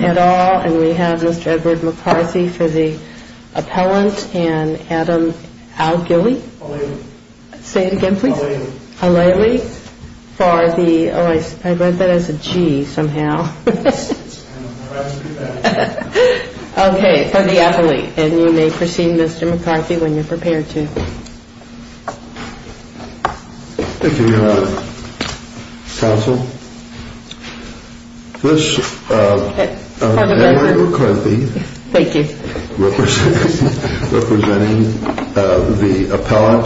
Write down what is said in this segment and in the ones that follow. et al. And we have Mr. Edward McCarthy for the appellant and Adam Al-Ghili. Say it again please. Al-Ghili. Al-Ghili. For the, oh I read that as a G somehow. Okay, for the appellate. And you may proceed Mr. McCarthy. Mr. McCarthy when you're prepared to. Thank you Your Honor. Counsel. This is Edward McCarthy. Thank you. Representing the appellant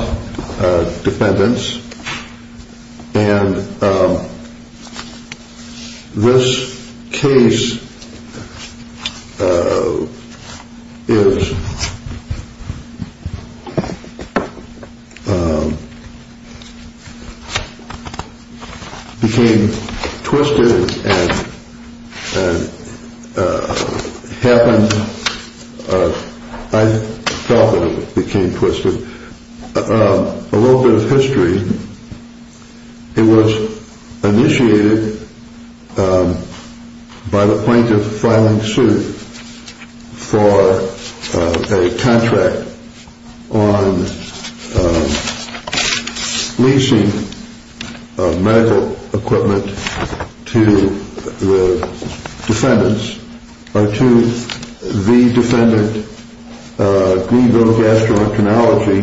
defendants. And this case is, became twisted and happened, I felt that it became twisted. A little bit of history. It was initiated by the plaintiff filing suit for a contract on leasing medical equipment to the defendants. To the defendant Greenville Gastroenterology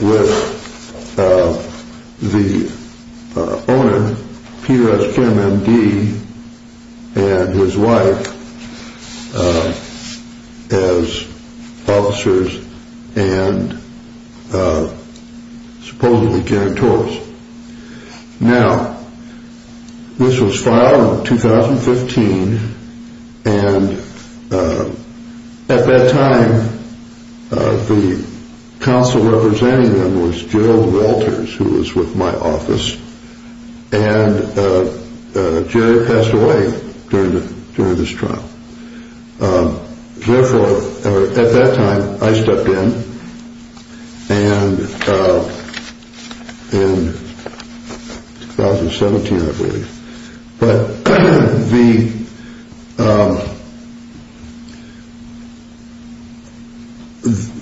with the owner Peter S. Kim, M.D. and his wife as officers and supposedly guarantors. Now, this was filed in 2015 and at that time the counsel representing them was Gerald Walters who was with my office and Jerry passed away during this trial. Therefore, at that time I stepped in and in 2017 I believe, but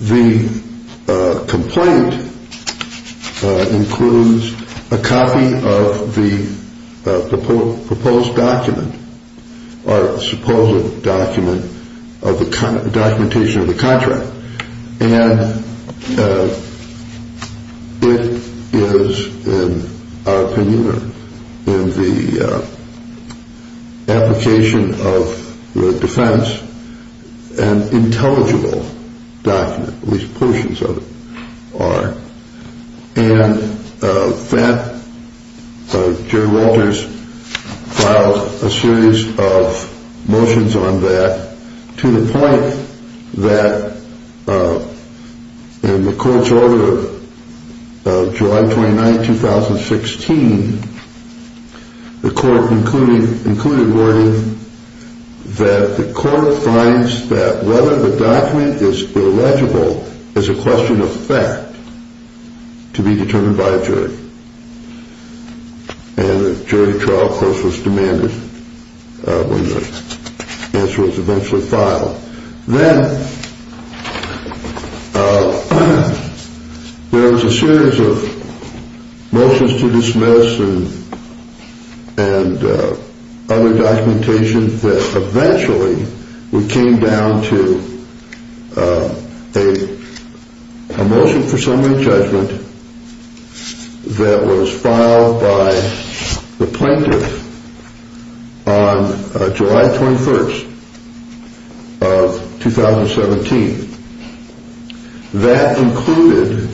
the complaint includes a copy of the proposed document. Or a supposed document of the documentation of the contract. And it is in our opinion in the application of the defense an intelligible document, at least portions of it are. And that Gerald Walters filed a series of motions on that to the point that in the court's order of July 29, 2016, the court included wording that the court finds that whether the document is illegible is a question of fact. To be determined by a jury. And a jury trial course was demanded when the answer was eventually filed. Then there was a series of motions to dismiss and other documentation that eventually we came down to a motion for summary judgment that was filed by the plaintiff on July 21. Of 2017 that included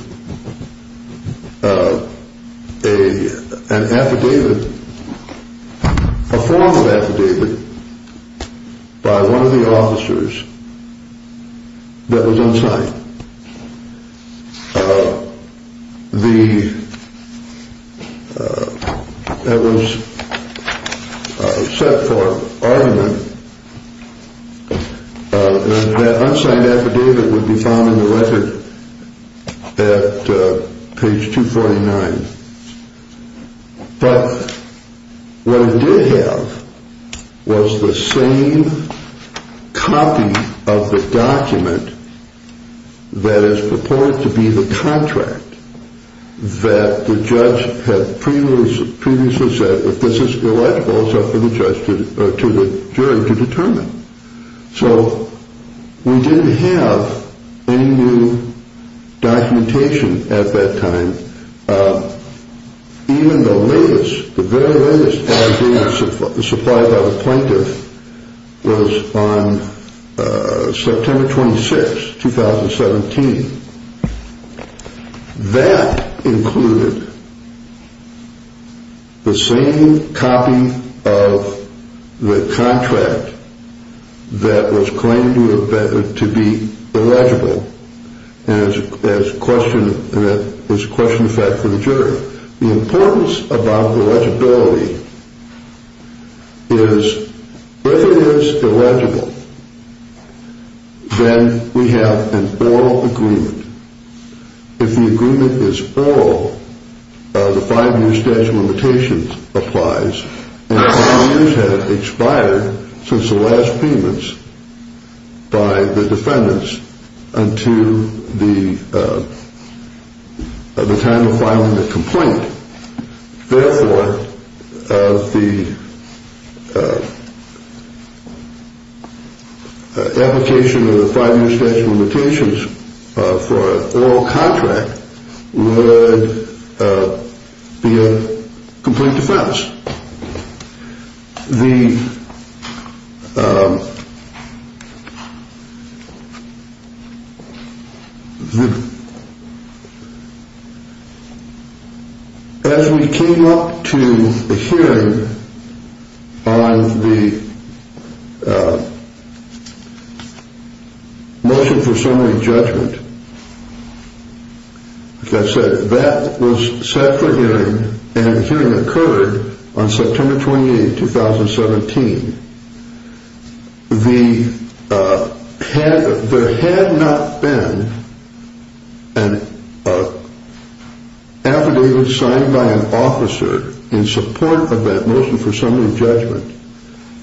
a form of affidavit by one of the officers that was unsigned. That was set for argument and that unsigned affidavit would be found in the record at page 249. But what it did have was the same copy of the document that is proposed to be the contract that the judge had previously said if this is illegible it is up to the jury to determine. So we didn't have any new documentation at that time. Even the latest, the very latest affidavit supplied by the plaintiff was on September 26, 2017. That included the same copy of the contract that was claimed to be illegible and is a question of fact for the jury. The importance about the legibility is if it is illegible then we have an oral agreement. If the agreement is oral the five year statute of limitations applies and five years have expired since the last payments by the defendants until the time of filing the complaint. Therefore the application of the five year statute of limitations for an oral contract would be a complete defense. As we came up to a hearing on the motion for summary judgment that was set for hearing and the hearing occurred on September 28, 2017. There had not been an affidavit signed by an officer in support of that motion for summary judgment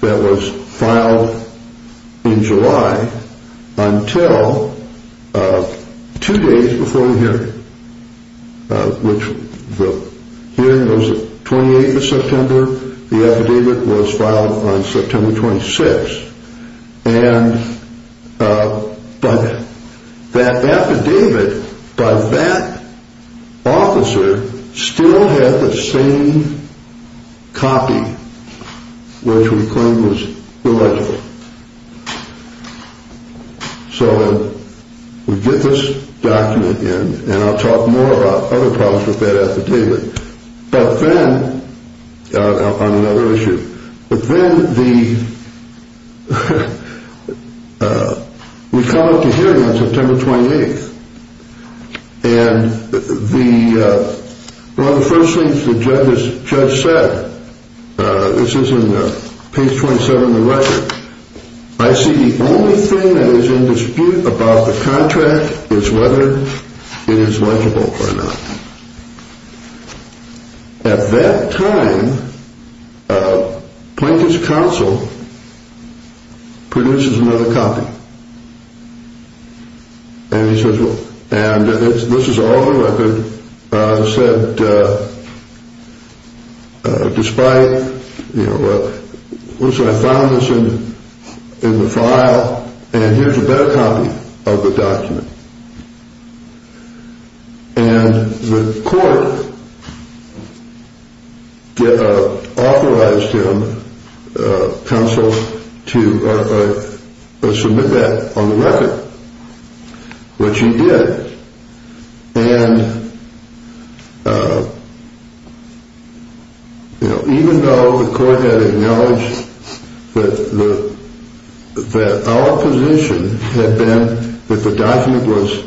that was filed in July until two days before the hearing. The hearing was on the 28th of September and the affidavit was filed on September 26. That affidavit by that officer still had the same copy which we claimed was illegible. So we get this document in and I'll talk more about other problems with that affidavit on another issue. But then we come up to hearing on September 28th and one of the first things the judge said, this is in page 27 of the record, I see the only thing that is in dispute about the contract is whether it is legible or not. At that time Plinkett's counsel produces another copy and he says look, and this is all the record that said despite, I found this in the file and here's a better copy of the document and the court authorized him, counsel, to submit that on the record. Which he did and even though the court had acknowledged that our position had been that the document was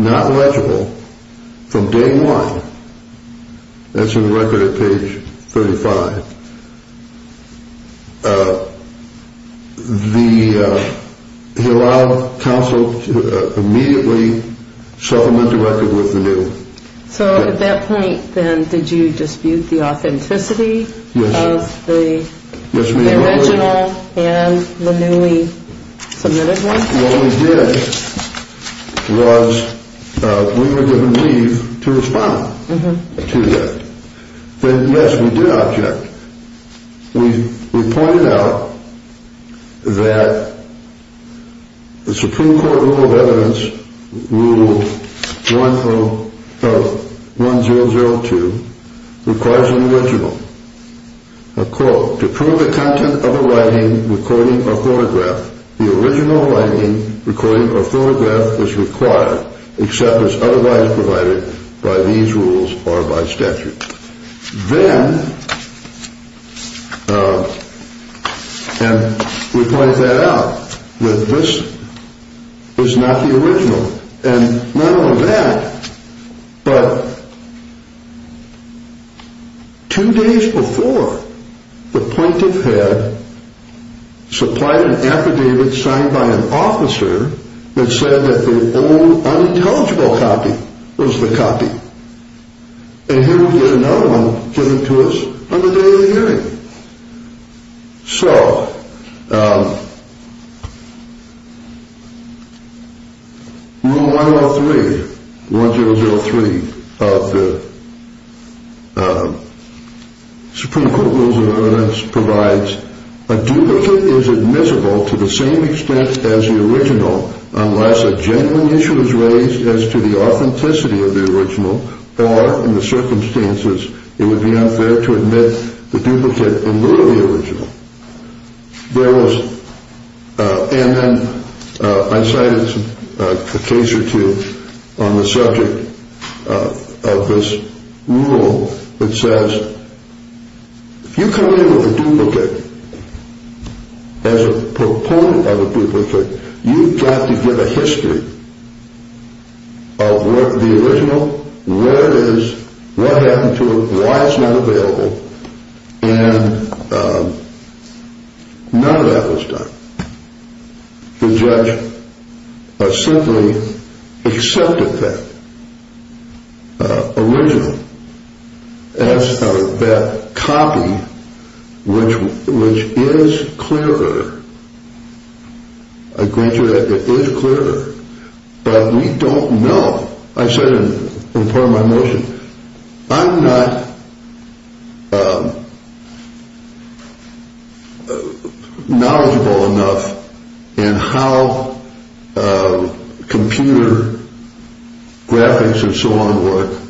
not legible from day one, that's in the record at page 35, he allowed counsel to immediately supplement the record with the new. So at that point then did you dispute the authenticity of the original and the newly submitted one? What we did was we were given leave to respond to that. Yes, we did object. We pointed out that the Supreme Court rule of evidence, rule 1002, requires an original. A quote, to prove the content of a writing, recording or photograph, the original writing, recording or photograph was required except as otherwise provided by these rules or by statute. Then, and we pointed that out, that this is not the original. And not only that, but two days before the Plinkett had supplied an affidavit signed by an officer that said that the only unintelligible copy was the copy. And here we get another one given to us on the day of the hearing. So, rule 103, 1003 of the Supreme Court rules of evidence provides a duplicate is admissible to the same extent as the original, unless a genuine issue is raised as to the authenticity of the original or in the circumstances it would be unfair to admit the duplicate in lieu of the original. And then I cited a case or two on the subject of this rule that says if you come in with a duplicate, as a proponent of a duplicate, you've got to give a history of what the original, where it is, what happened to it, why it's not available, and none of that was done. The judge simply accepted that original as that copy, which is clearer. I grant you that it is clearer. But we don't know. I said in part of my motion, I'm not knowledgeable enough in how computer graphics and so on work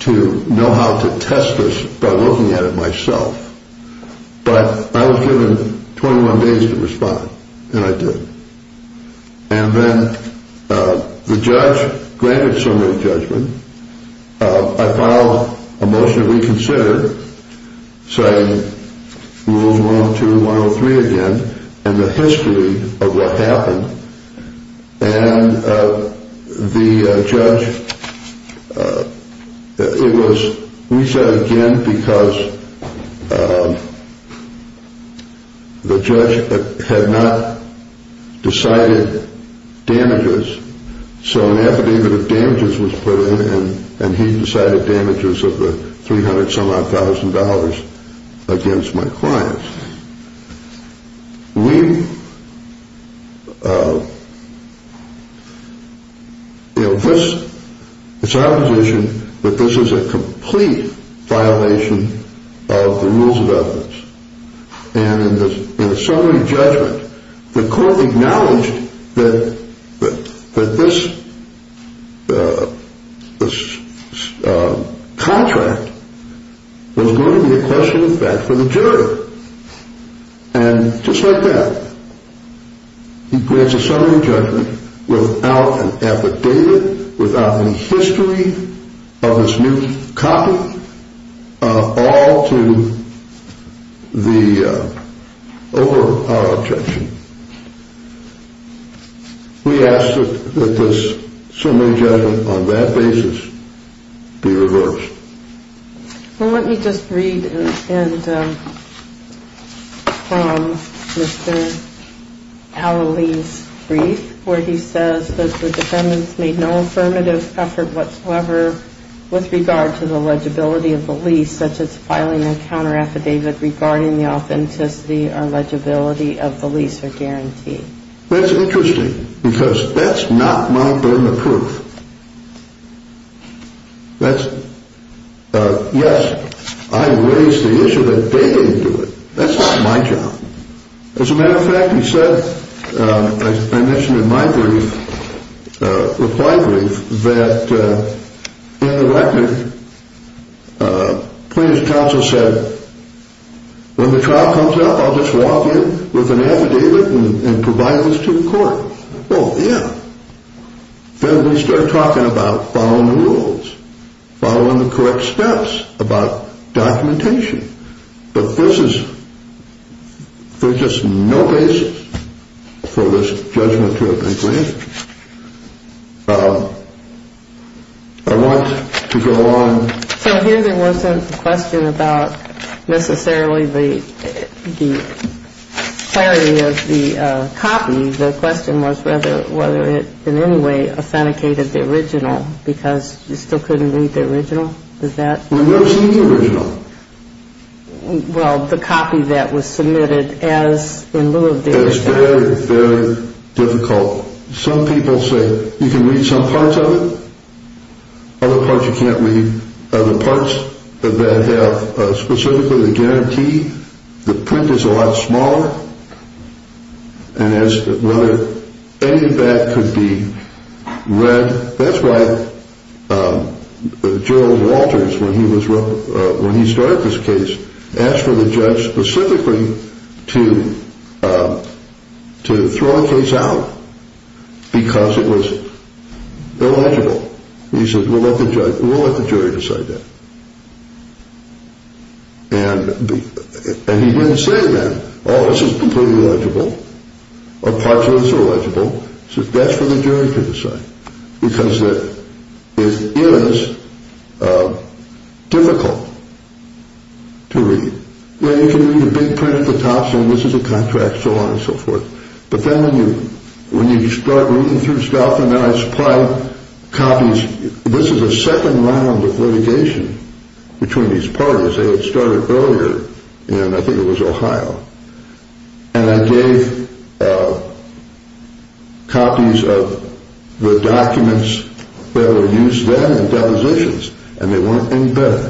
to know how to test this by looking at it myself. But I was given 21 days to respond, and I did. And then the judge granted some of the judgment. I filed a motion to reconsider, citing rules 102, 103 again, and the history of what happened. And the judge, it was, we said again because the judge had not decided damages. So an affidavit of damages was put in, and he decided damages of the $300,000 against my clients. We, you know, this, it's our position that this is a complete violation of the rules of evidence. And in the summary judgment, the court acknowledged that this contract was going to be a question of fact for the jury. And just like that, he grants a summary judgment without an affidavit, without any history of this new copy, all to the, over our objection. We ask that this summary judgment on that basis be reversed. Well, let me just read from Mr. Al-Ali's brief where he says that the defendants made no affirmative effort whatsoever with regard to the legibility of the lease, such as filing a counter affidavit regarding the authenticity or legibility of the lease or guarantee. That's interesting because that's not Mount Vernon proof. That's, yes, I raised the issue that they didn't do it. That's not my job. As a matter of fact, he said, as I mentioned in my brief, reply brief, that in the record, plaintiff's counsel said, when the trial comes up, I'll just walk in with an affidavit and provide this to the court. Well, yeah. Then we start talking about following the rules, following the correct steps about documentation. But this is, there's just no basis for this judgment to have been granted. I want to go on. So here there wasn't a question about necessarily the clarity of the copy. The question was whether it in any way authenticated the original because you still couldn't read the original? We've never seen the original. Well, the copy that was submitted as in lieu of the original. It was very, very difficult. Some people say you can read some parts of it. Other parts you can't read. The parts that have specifically the guarantee, the print is a lot smaller. And as to whether any of that could be read, that's why Gerald Walters, when he started this case, asked for the judge specifically to throw a case out because it was illegible. He said, we'll let the jury decide that. And he didn't say then, oh, this is completely illegible or parts of this are illegible. He said, that's for the jury to decide because it is difficult to read. You can read a big print at the top saying this is a contract, so on and so forth. But then when you start reading through stuff and then I supply copies, this is a second round of litigation between these parties. They had started earlier and I think it was Ohio. And I gave copies of the documents that were used then in depositions and they weren't any better,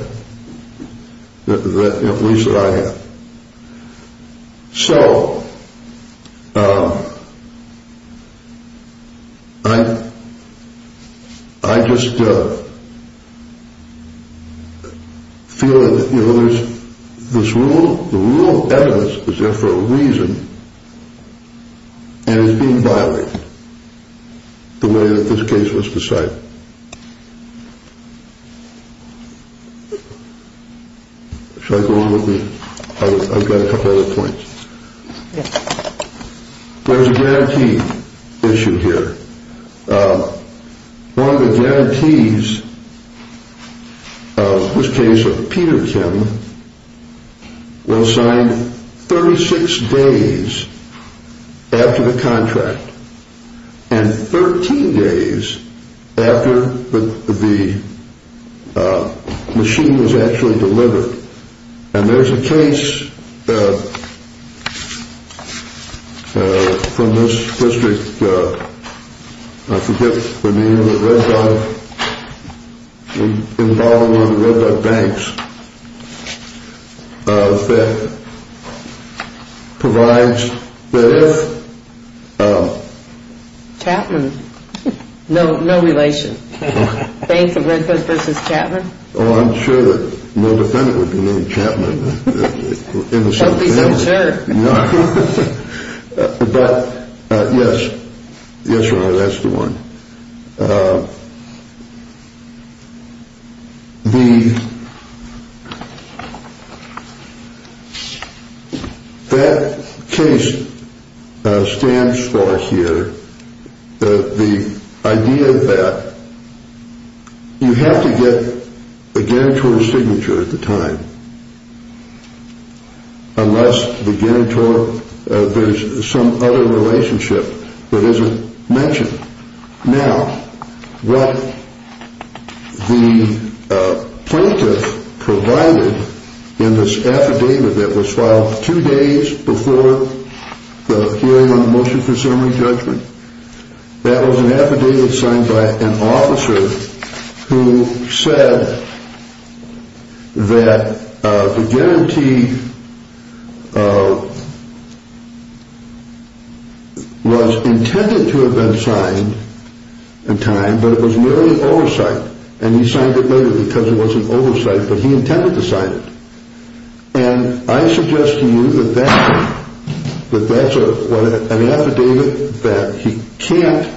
at least that I had. So I just feel that there's this rule, the rule of evidence is there for a reason and it's being violated the way that this case was decided. Should I go on with me? I've got a couple other points. There's a guarantee issue here. One of the guarantees of this case of Peter Kim will sign 36 days after the contract and 13 days after the machine was actually delivered. And there's a case from this district, I forget the name of it, Red Duck, involving one of the Red Duck banks that provides that if... Chapman. No relation. Banks of Red Duck versus Chapman. Oh, I'm sure that no defendant would be named Chapman. That'd be some terror. But yes, that's the one. That case stands for here, the idea that you have to get a guarantor's signature at the time unless the guarantor, there's some other relationship that isn't mentioned. Now, what the plaintiff provided in this affidavit that was filed two days before the hearing on the motion for summary judgment, that was an affidavit signed by an officer who said that the guarantee was intended to have been signed in time, but it was merely an oversight, and he signed it later because it was an oversight, but he intended to sign it. And I suggest to you that that's an affidavit that he can't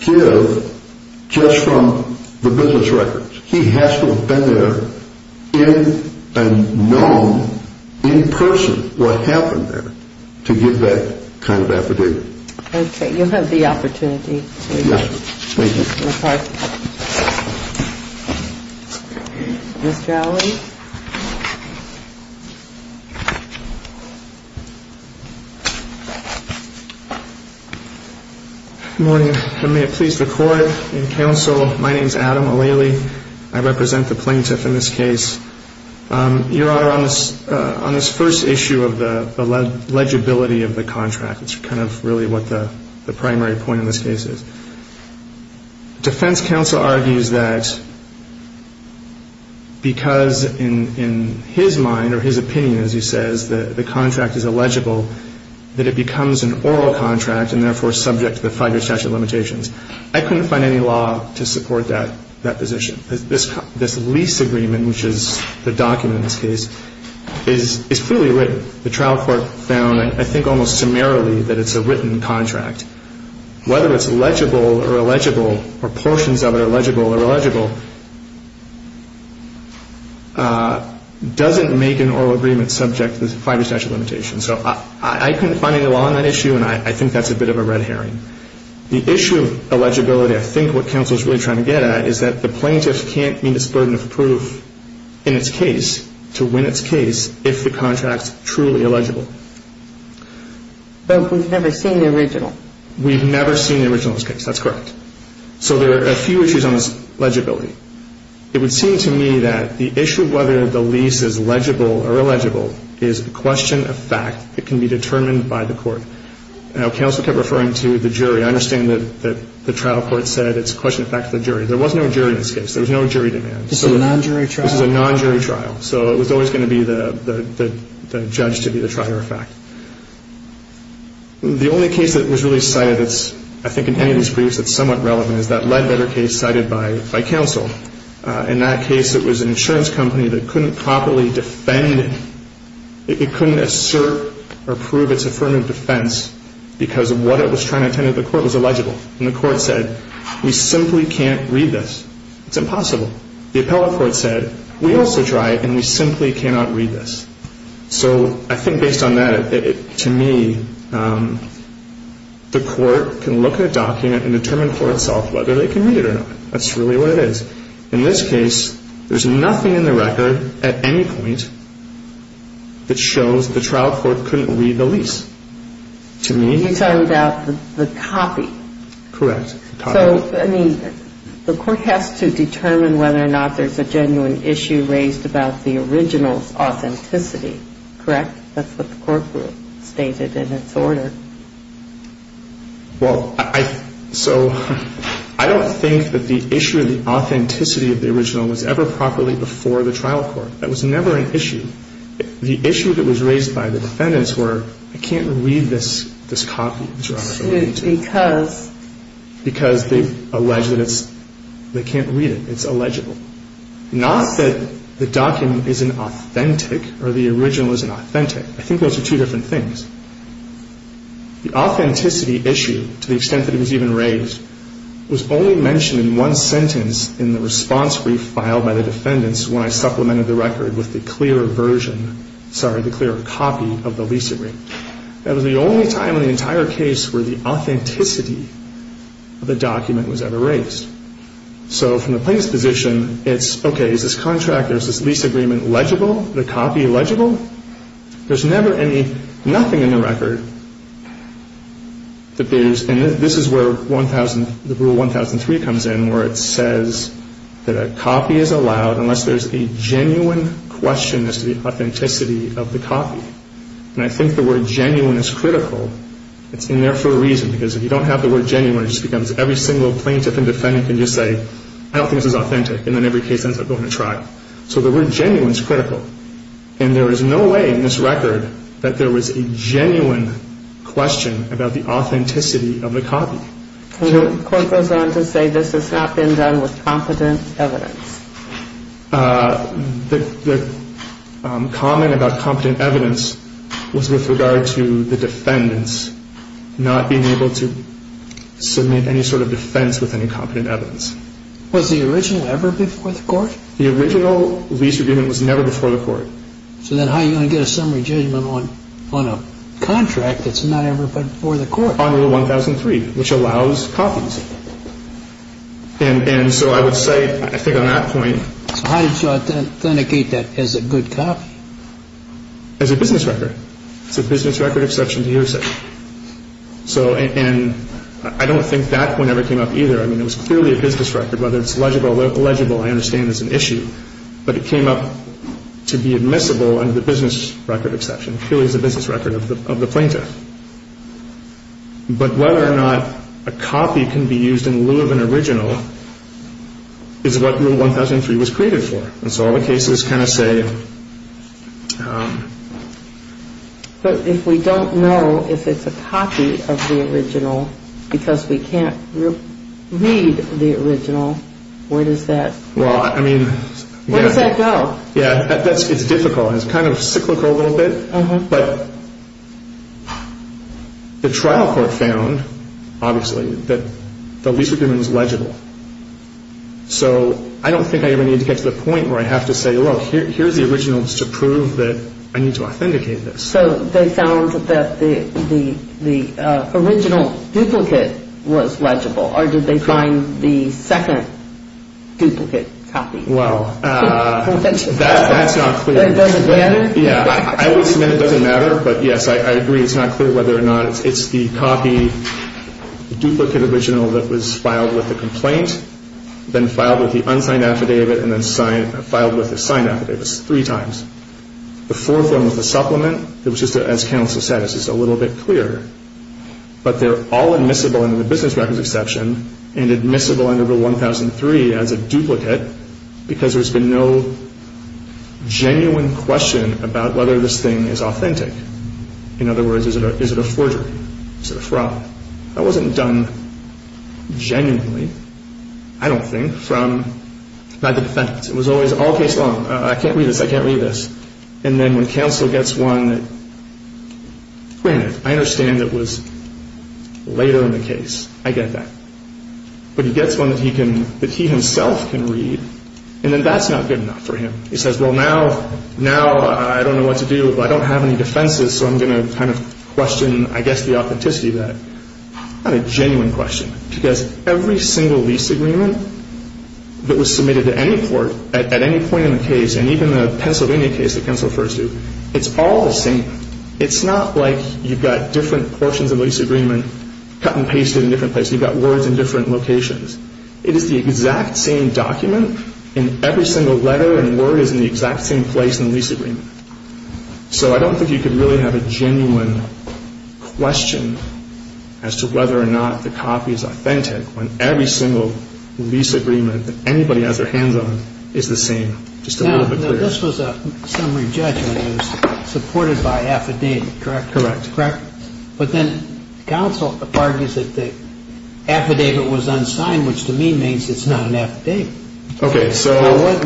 give just from the business records. He has to have been there and known in person what happened there to give that kind of affidavit. Okay, you'll have the opportunity to... Yes, thank you. Ms. Gowdy. Good morning, and may it please the Court and counsel, my name's Adam O'Leary. I represent the plaintiff in this case. Your Honor, on this first issue of the legibility of the contract, it's kind of really what the primary point in this case is. Defense counsel argues that because in his mind or his opinion, as he says, the contract is illegible, that it becomes an oral contract and, therefore, subject to the five-year statute of limitations. I couldn't find any law to support that position. This lease agreement, which is the document in this case, is clearly written. The trial court found, I think almost summarily, that it's a written contract. Whether it's legible or illegible or portions of it are legible or illegible doesn't make an oral agreement subject to the five-year statute of limitations. So I couldn't find any law on that issue, and I think that's a bit of a red herring. The issue of legibility, I think what counsel is really trying to get at, is that the plaintiff can't meet its burden of proof in its case, to win its case, if the contract's truly illegible. But we've never seen the original. We've never seen the original in this case. That's correct. So there are a few issues on this legibility. It would seem to me that the issue of whether the lease is legible or illegible is a question of fact that can be determined by the court. Now, counsel kept referring to the jury. I understand that the trial court said it's a question of fact of the jury. There was no jury in this case. There was no jury demand. This is a non-jury trial? This is a non-jury trial. So it was always going to be the judge to be the trier of fact. The only case that was really cited that's, I think, in any of these briefs, that's somewhat relevant is that Ledbetter case cited by counsel. In that case, it was an insurance company that couldn't properly defend it. It couldn't assert or prove its affirmative defense because of what it was trying to attend to. The court was illegible, and the court said, we simply can't read this. It's impossible. The appellate court said, we also tried, and we simply cannot read this. So I think based on that, to me, the court can look at a document and determine for itself whether they can read it or not. That's really what it is. In this case, there's nothing in the record at any point that shows the trial court couldn't read the lease. To me, it's not. You're talking about the copy. Correct. So, I mean, the court has to determine whether or not there's a genuine issue raised about the original's authenticity, correct? That's what the court group stated in its order. Well, so I don't think that the issue of the authenticity of the original was ever properly before the trial court. That was never an issue. The issue that was raised by the defendants were, I can't read this copy, because they've alleged that they can't read it. It's illegible. Not that the document isn't authentic or the original isn't authentic. I think those are two different things. The authenticity issue, to the extent that it was even raised, was only mentioned in one sentence in the response brief filed by the defendants when I supplemented the record with the clear copy of the lease agreement. That was the only time in the entire case where the authenticity of the document was ever raised. So from the plaintiff's position, it's, okay, is this contract, is this lease agreement legible, the copy legible? There's never any, nothing in the record that there's, and this is where the rule 1003 comes in, where it says that a copy is allowed unless there's a genuine question as to the authenticity of the copy. And I think the word genuine is critical. It's in there for a reason, because if you don't have the word genuine, it just becomes every single plaintiff and defendant can just say, I don't think this is authentic, and then every case ends up going to trial. So the word genuine is critical. And there is no way in this record that there was a genuine question about the authenticity of the copy. The court goes on to say this has not been done with competent evidence. The comment about competent evidence was with regard to the defendants not being able to submit any sort of defense with any competent evidence. Was the original ever before the court? The original lease agreement was never before the court. So then how are you going to get a summary judgment on a contract that's not ever before the court? On rule 1003, which allows copies. And so I would say, I think on that point. So how did you authenticate that as a good copy? As a business record. It's a business record exception to your section. And I don't think that point ever came up either. I mean, it was clearly a business record, whether it's legible or illegible, I understand it's an issue. But it came up to be admissible under the business record exception. It clearly is a business record of the plaintiff. But whether or not a copy can be used in lieu of an original is what rule 1003 was created for. And so all the cases kind of say. But if we don't know if it's a copy of the original because we can't read the original, where does that go? It's difficult. It's kind of cyclical a little bit. But the trial court found, obviously, that the lease agreement was legible. So I don't think I ever needed to get to the point where I have to say, look, here's the original just to prove that I need to authenticate this. So they found that the original duplicate was legible. Or did they find the second duplicate copy? Well, that's not clear. It doesn't matter? Yeah, I would submit it doesn't matter. But, yes, I agree it's not clear whether or not it's the copy, the duplicate original that was filed with the complaint, then filed with the unsigned affidavit, and then filed with the signed affidavit three times. The fourth one was the supplement. It was just as counsel said. It's just a little bit clearer. But they're all admissible under the business record exception and admissible under Rule 1003 as a duplicate because there's been no genuine question about whether this thing is authentic. In other words, is it a forgery? Is it a fraud? That wasn't done genuinely, I don't think, by the defendants. It was always all case law. I can't read this. I can't read this. And then when counsel gets one that, granted, I understand it was later in the case. I get that. But he gets one that he himself can read, and then that's not good enough for him. He says, well, now I don't know what to do. I don't have any defenses, so I'm going to kind of question, I guess, the authenticity of that. Not a genuine question because every single lease agreement that was submitted to any court at any point in the case, and even the Pennsylvania case that counsel refers to, it's all the same. It's not like you've got different portions of the lease agreement cut and pasted in different places. You've got words in different locations. It is the exact same document in every single letter and word is in the exact same place in the lease agreement. So I don't think you could really have a genuine question as to whether or not the copy is authentic when every single lease agreement that anybody has their hands on is the same. Just a little bit clearer. Now, this was a summary judgment. It was supported by affidavit, correct? Correct. But then counsel argues that the affidavit was unsigned, which to me means it's not an affidavit. Okay. So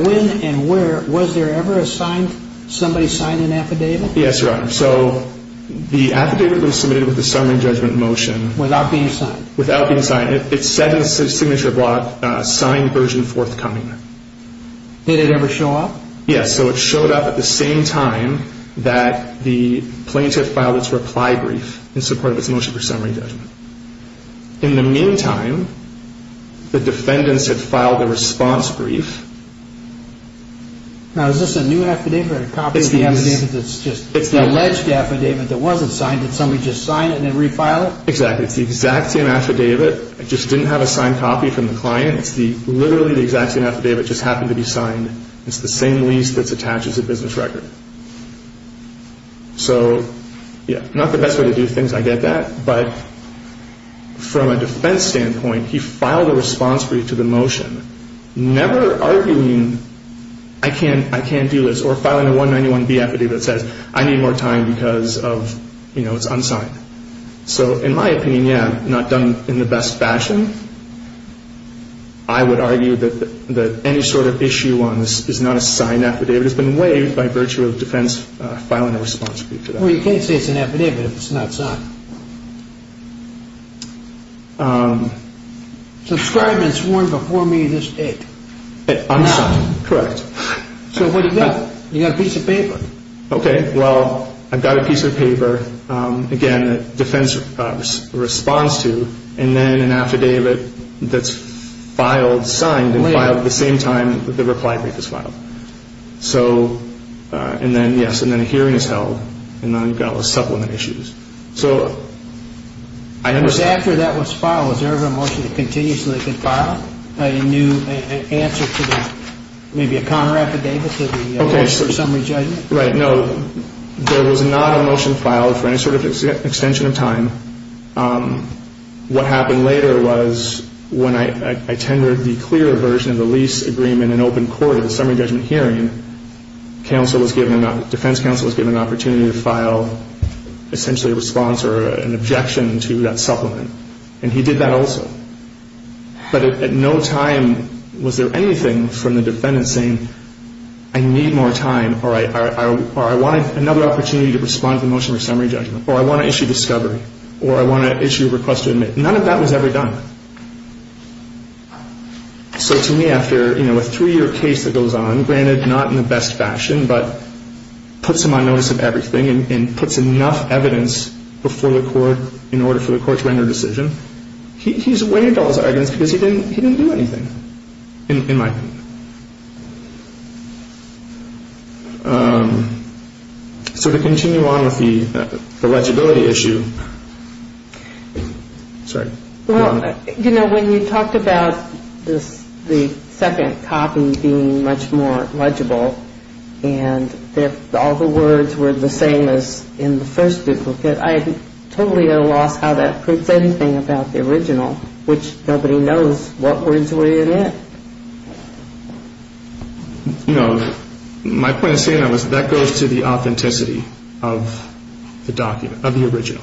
when and where, was there ever a signed, somebody signed an affidavit? Yes, Your Honor. So the affidavit was submitted with the summary judgment motion. Without being signed. Without being signed. It said in the signature block, signed version forthcoming. Did it ever show up? Yes. So it showed up at the same time that the plaintiff filed its reply brief in support of its motion for summary judgment. In the meantime, the defendants had filed the response brief. Now, is this a new affidavit or a copy of the affidavit that's just the alleged affidavit that wasn't signed? Did somebody just sign it and then refile it? Exactly. It's the exact same affidavit. It just didn't have a signed copy from the client. It just happened to be signed. It's the same lease that's attached as a business record. So, yeah, not the best way to do things, I get that. But from a defense standpoint, he filed a response brief to the motion, never arguing I can't do this or filing a 191B affidavit that says I need more time because of, you know, it's unsigned. So in my opinion, yeah, not done in the best fashion. I would argue that any sort of issue on this is not a signed affidavit. It's been waived by virtue of defense filing a response brief to that. Well, you can't say it's an affidavit if it's not signed. Subscribed and sworn before me this date. Unsigned, correct. So what do you got? You got a piece of paper. Okay, well, I've got a piece of paper, again, that defense responds to and then an affidavit that's filed, signed and filed at the same time the reply brief is filed. So, and then, yes, and then a hearing is held and then you've got all the supplement issues. So I understand. Because after that was filed, was there ever a motion to continue so they could file a new answer to that? Right, no. There was not a motion filed for any sort of extension of time. What happened later was when I tendered the clearer version of the lease agreement in open court at the summary judgment hearing, defense counsel was given an opportunity to file essentially a response or an objection to that supplement, and he did that also. But at no time was there anything from the defendant saying, I need more time, or I want another opportunity to respond to the motion for summary judgment, or I want to issue discovery, or I want to issue a request to admit. None of that was ever done. So to me, after a three-year case that goes on, granted not in the best fashion, but puts him on notice of everything and puts enough evidence before the court in order for the court to render a decision, he's waived all his arguments because he didn't do anything, in my opinion. So to continue on with the legibility issue, sorry. Well, you know, when you talked about the second copy being much more legible and all the words were the same as in the first duplicate, I totally lost how that proves anything about the original, which nobody knows what words were in it. You know, my point of saying that was that goes to the authenticity of the original.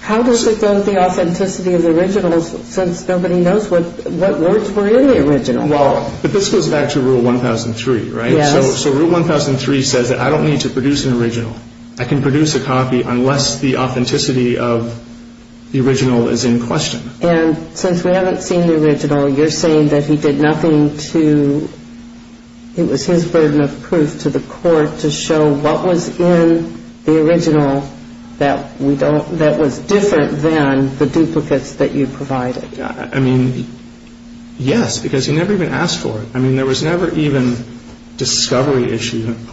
How does it go to the authenticity of the original since nobody knows what words were in the original? Well, but this goes back to Rule 1003, right? Yes. So Rule 1003 says that I don't need to produce an original. I can produce a copy unless the authenticity of the original is in question. And since we haven't seen the original, you're saying that he did nothing to – it was his burden of proof to the court to show what was in the original that we don't – that was different than the duplicates that you provided. I mean, yes, because he never even asked for it. I mean, there was never even discovery issue – I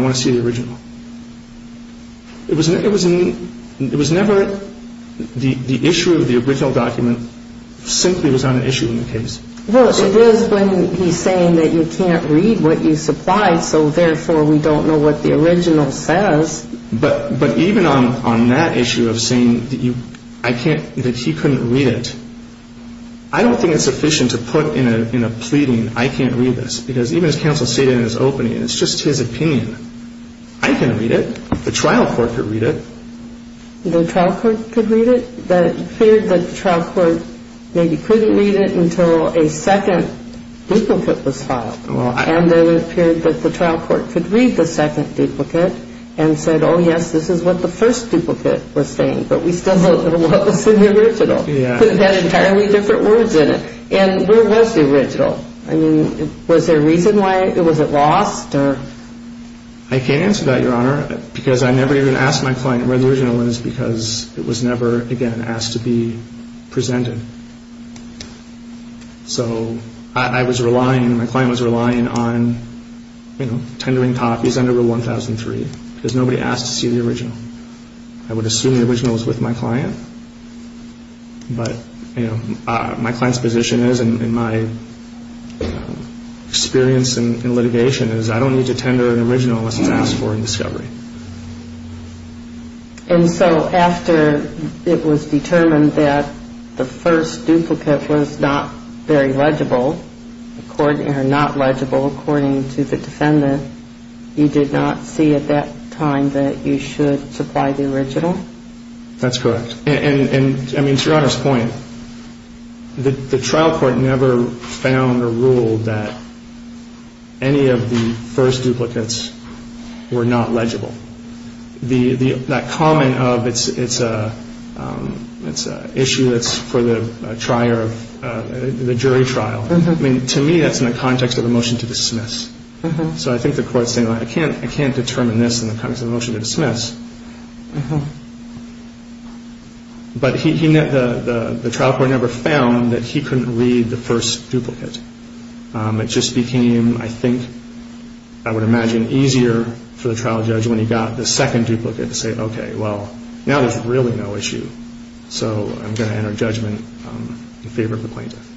want to see the original. It was never – the issue of the original document simply was not an issue in the case. Well, it is when he's saying that you can't read what you supplied, so therefore we don't know what the original says. But even on that issue of saying that you – I can't – that he couldn't read it, I don't think it's sufficient to put in a pleading I can't read this because even as counsel stated in his opening, it's just his opinion. I can read it. The trial court could read it. The trial court could read it? It appeared that the trial court maybe couldn't read it until a second duplicate was filed. And then it appeared that the trial court could read the second duplicate and said, oh, yes, this is what the first duplicate was saying, but we still don't know what was in the original. It had entirely different words in it. And where was the original? I mean, was there a reason why – was it lost or? I can't answer that, Your Honor, because I never even asked my client where the original was because it was never, again, asked to be presented. So I was relying – my client was relying on, you know, tendering copies under Rule 1003 because nobody asked to see the original. I would assume the original was with my client, but, you know, my client's position is and my experience in litigation is I don't need to tender an original unless it's asked for in discovery. And so after it was determined that the first duplicate was not very legible, or not legible according to the defendant, you did not see at that time that you should supply the original? That's correct. And, I mean, to Your Honor's point, the trial court never found or ruled that any of the first duplicates were not legible. That comment of it's an issue that's for the jury trial, I mean, to me that's in the context of the motion to dismiss. So I think the court's saying, I can't determine this in the context of the motion to dismiss. But the trial court never found that he couldn't read the first duplicate. It just became, I think, I would imagine, easier for the trial judge when he got the second duplicate to say, okay, well, now there's really no issue, so I'm going to enter judgment in favor of the plaintiff.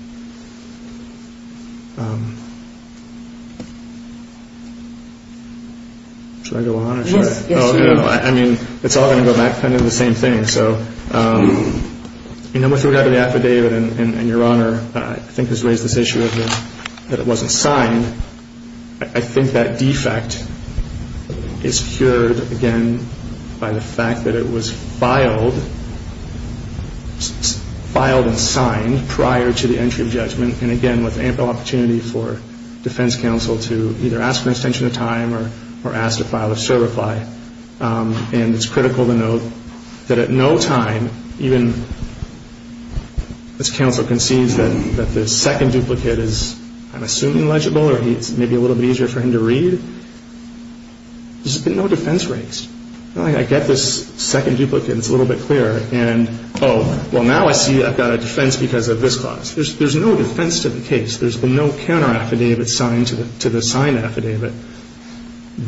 Should I go on? Yes. I mean, it's all going to go back to kind of the same thing. So in number three out of the affidavit, and Your Honor I think has raised this issue that it wasn't signed, I think that defect is cured, again, by the fact that it was filed and signed prior to the entry of judgment, and again with ample opportunity for defense counsel to either ask for an extension of time or ask to file a certify. And it's critical to note that at no time, even as counsel concedes that the second duplicate is, I'm assuming, legible or it's maybe a little bit easier for him to read, there's been no defense raised. I get this second duplicate, it's a little bit clearer, and oh, well, now I see I've got a defense because of this clause. There's no defense to the case. There's been no counteraffidavit signed to the signed affidavit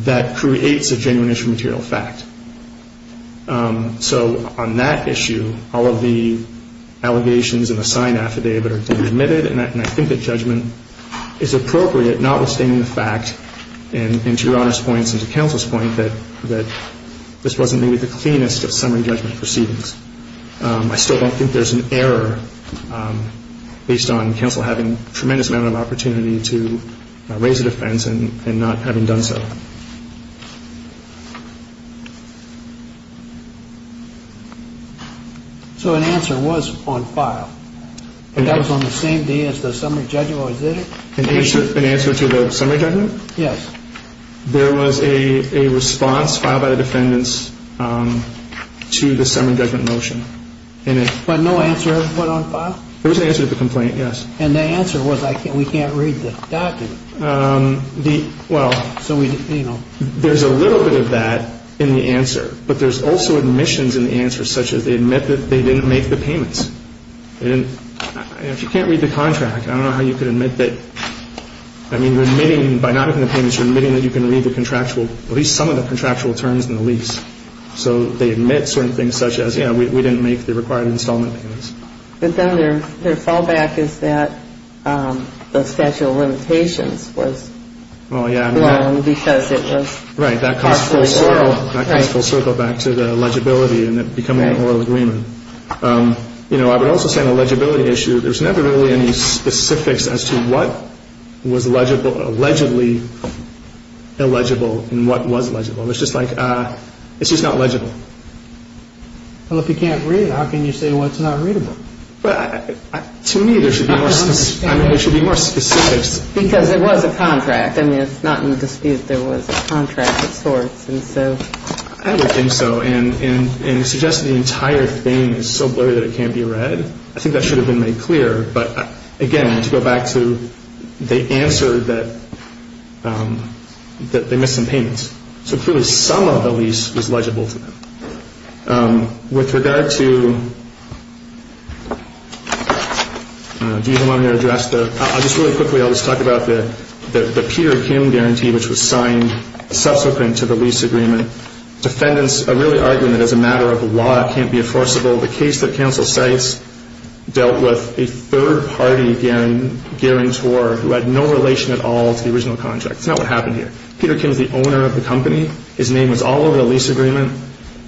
that creates a genuine issue of material fact. So on that issue, all of the allegations in the signed affidavit are admitted, and I think that judgment is appropriate, notwithstanding the fact, and to Your Honor's point and to counsel's point, that this wasn't maybe the cleanest of summary judgment proceedings. I still don't think there's an error based on counsel having a tremendous amount of opportunity to raise a defense and not having done so. Okay. So an answer was on file. That was on the same day as the summary judgment was entered? An answer to the summary judgment? Yes. There was a response filed by the defendants to the summary judgment motion. But no answer was put on file? There was an answer to the complaint, yes. And the answer was, we can't read the document. Well, so we, you know, there's a little bit of that in the answer, but there's also admissions in the answer, such as they admit that they didn't make the payments. If you can't read the contract, I don't know how you could admit that. I mean, you're admitting, by not making the payments, you're admitting that you can read the contractual, at least some of the contractual terms in the lease. So they admit certain things such as, yeah, we didn't make the required installment payments. But then their fallback is that the statute of limitations was wrong because it was partially wrong. Right. That comes full circle back to the legibility and it becoming a whole agreement. You know, I would also say on the legibility issue, there's never really any specifics as to what was allegedly illegible and what was legible. It's just like, it's just not legible. Well, if you can't read it, how can you say what's not readable? To me, there should be more specifics. Because it was a contract. I mean, it's not in dispute there was a contract of sorts. I would think so. And you suggested the entire thing is so blurry that it can't be read. I think that should have been made clear. But, again, to go back to the answer that they missed some payments. So clearly some of the lease was legible to them. With regard to, do you want me to address the, I'll just really quickly, I'll just talk about the Peter Kim guarantee which was signed subsequent to the lease agreement. Defendants are really arguing that as a matter of law, it can't be enforceable. The case that counsel cites dealt with a third-party guarantor who had no relation at all to the original contract. It's not what happened here. Peter Kim is the owner of the company. His name was all over the lease agreement.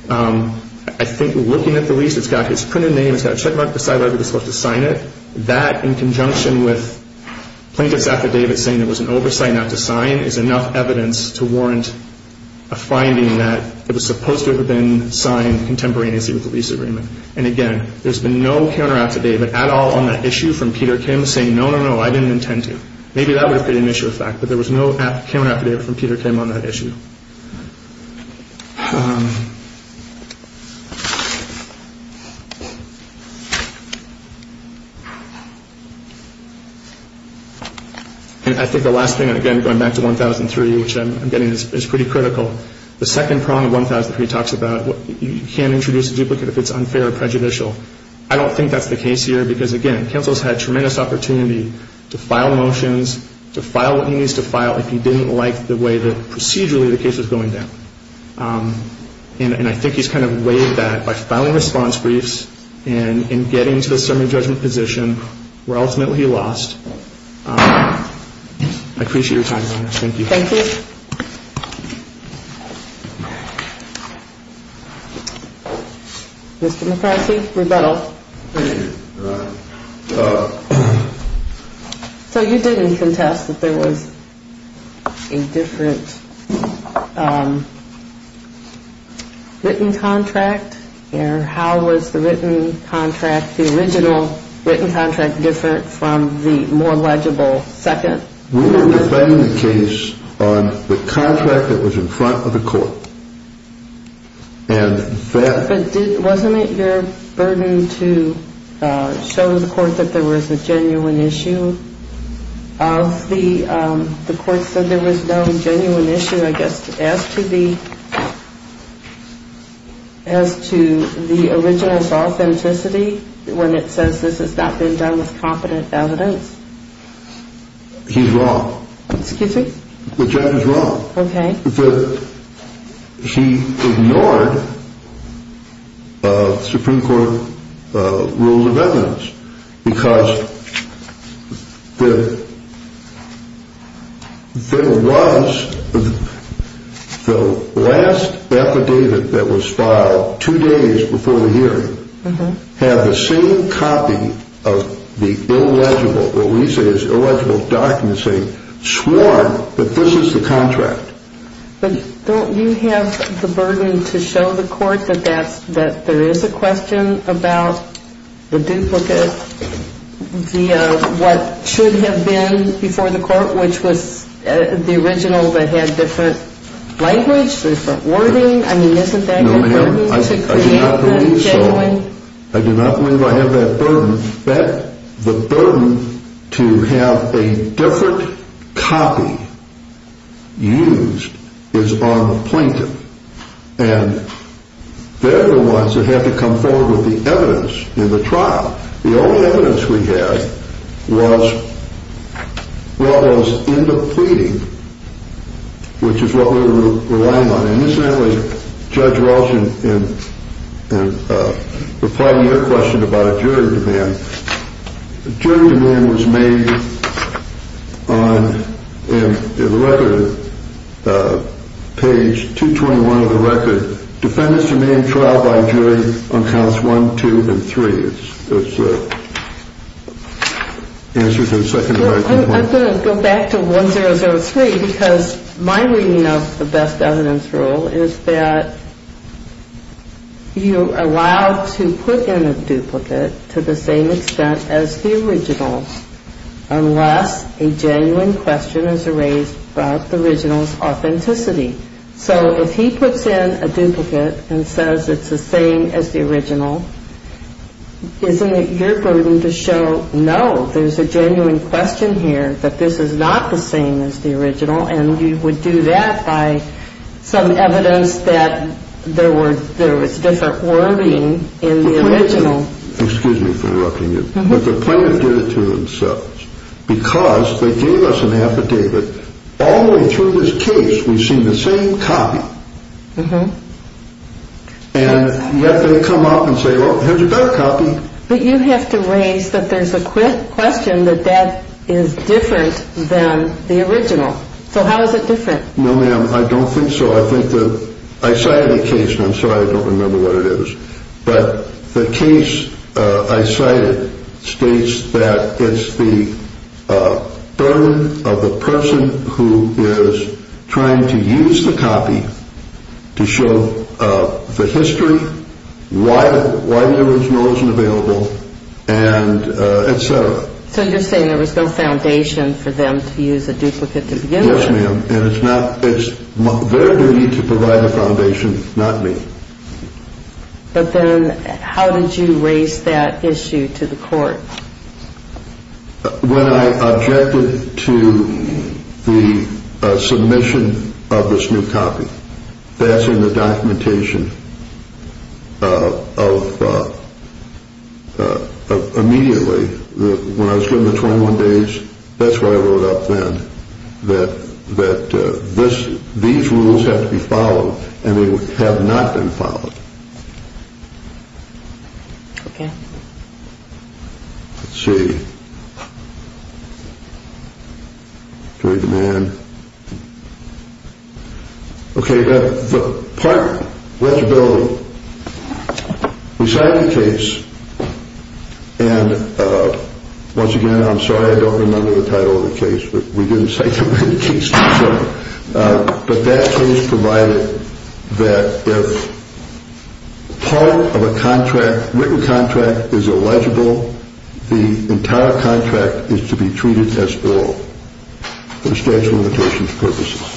I think looking at the lease, it's got his printed name. It's got a checkmark beside where he was supposed to sign it. That, in conjunction with plaintiffs' affidavits saying there was an oversight not to sign, is enough evidence to warrant a finding that it was supposed to have been signed contemporaneously with the lease agreement. And, again, there's been no counter-affidavit at all on that issue from Peter Kim saying, no, no, no, I didn't intend to. Maybe that would have been an issue of fact, but there was no counter-affidavit from Peter Kim on that issue. And I think the last thing, again, going back to 1003, which I'm getting is pretty critical. The second prong of 1003 talks about you can't introduce a duplicate if it's unfair or prejudicial. I don't think that's the case here because, again, counsel's had tremendous opportunity to file motions, to file what he needs to file if he didn't like the way that procedurally the case was going down. And I think he's kind of weighed that by filing response briefs and getting to the summary judgment position where ultimately he lost. I appreciate your time, Your Honor. Thank you. Thank you. Mr. McCarthy, rebuttal. Thank you, Your Honor. So you didn't contest that there was a different written contract? Or how was the written contract, the original written contract, different from the more legible second? We were defending the case on the contract that was in front of the court. And that — But wasn't it your burden to show the court that there was a genuine issue? The court said there was no genuine issue, I guess, as to the original's authenticity when it says this has not been done with competent evidence. He's wrong. Excuse me? The judge is wrong. Okay. He ignored Supreme Court rules of evidence because there was the last affidavit that was filed two days before the hearing had the same copy of the illegible, what we say is illegible document saying sworn that this is the contract. But don't you have the burden to show the court that there is a question about the duplicate via what should have been before the court, which was the original that had different language, different wording? I mean, isn't that your burden to create the genuine? No, ma'am, I do not believe so. I do not believe I have that burden. The burden to have a different copy used is on the plaintiff. And they're the ones that have to come forward with the evidence in the trial. The only evidence we had was what was in the pleading, which is what we were relying on. Judge Rolston, in reply to your question about a jury demand, jury demand was made on the record, page 221 of the record, defendants to main trial by jury on counts one, two, and three. That's the answer to the second and the right. I'm going to go back to 1003 because my reading of the best evidence rule is that you're allowed to put in a duplicate to the same extent as the original unless a genuine question is raised about the original's authenticity. So if he puts in a duplicate and says it's the same as the original, isn't it your burden to show, no, there's a genuine question here that this is not the same as the original, and you would do that by some evidence that there was different wording in the original. Excuse me for interrupting you, but the plaintiff did it to themselves because they gave us an affidavit. All the way through this case, we've seen the same copy. And yet they come up and say, well, here's a better copy. But you have to raise that there's a question that that is different than the original. So how is it different? No, ma'am, I don't think so. I cited a case, and I'm sorry I don't remember what it is, but the case I cited states that it's the burden of the person who is trying to use the copy to show the history, why the original isn't available, and et cetera. So you're saying there was no foundation for them to use a duplicate to begin with? Yes, ma'am, and it's their duty to provide a foundation, not me. But then how did you raise that issue to the court? When I objected to the submission of this new copy, that's in the documentation of immediately, when I was given the 21 days, that's what I wrote up then, that these rules have to be followed, and they have not been followed. Okay. Let's see. Okay, the man. Okay, the part legibility. We cited a case, and once again, I'm sorry I don't remember the title of the case, but we didn't cite the name of the case. But that case provided that if part of a contract, written contract, is illegible, the entire contract is to be treated as ill for statute of limitations purposes.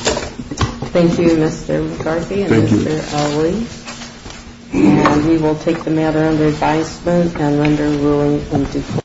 Thank you, Mr. McCarthy and Mr. Alley. Thank you. And we will take the matter under advisement and render ruling in default.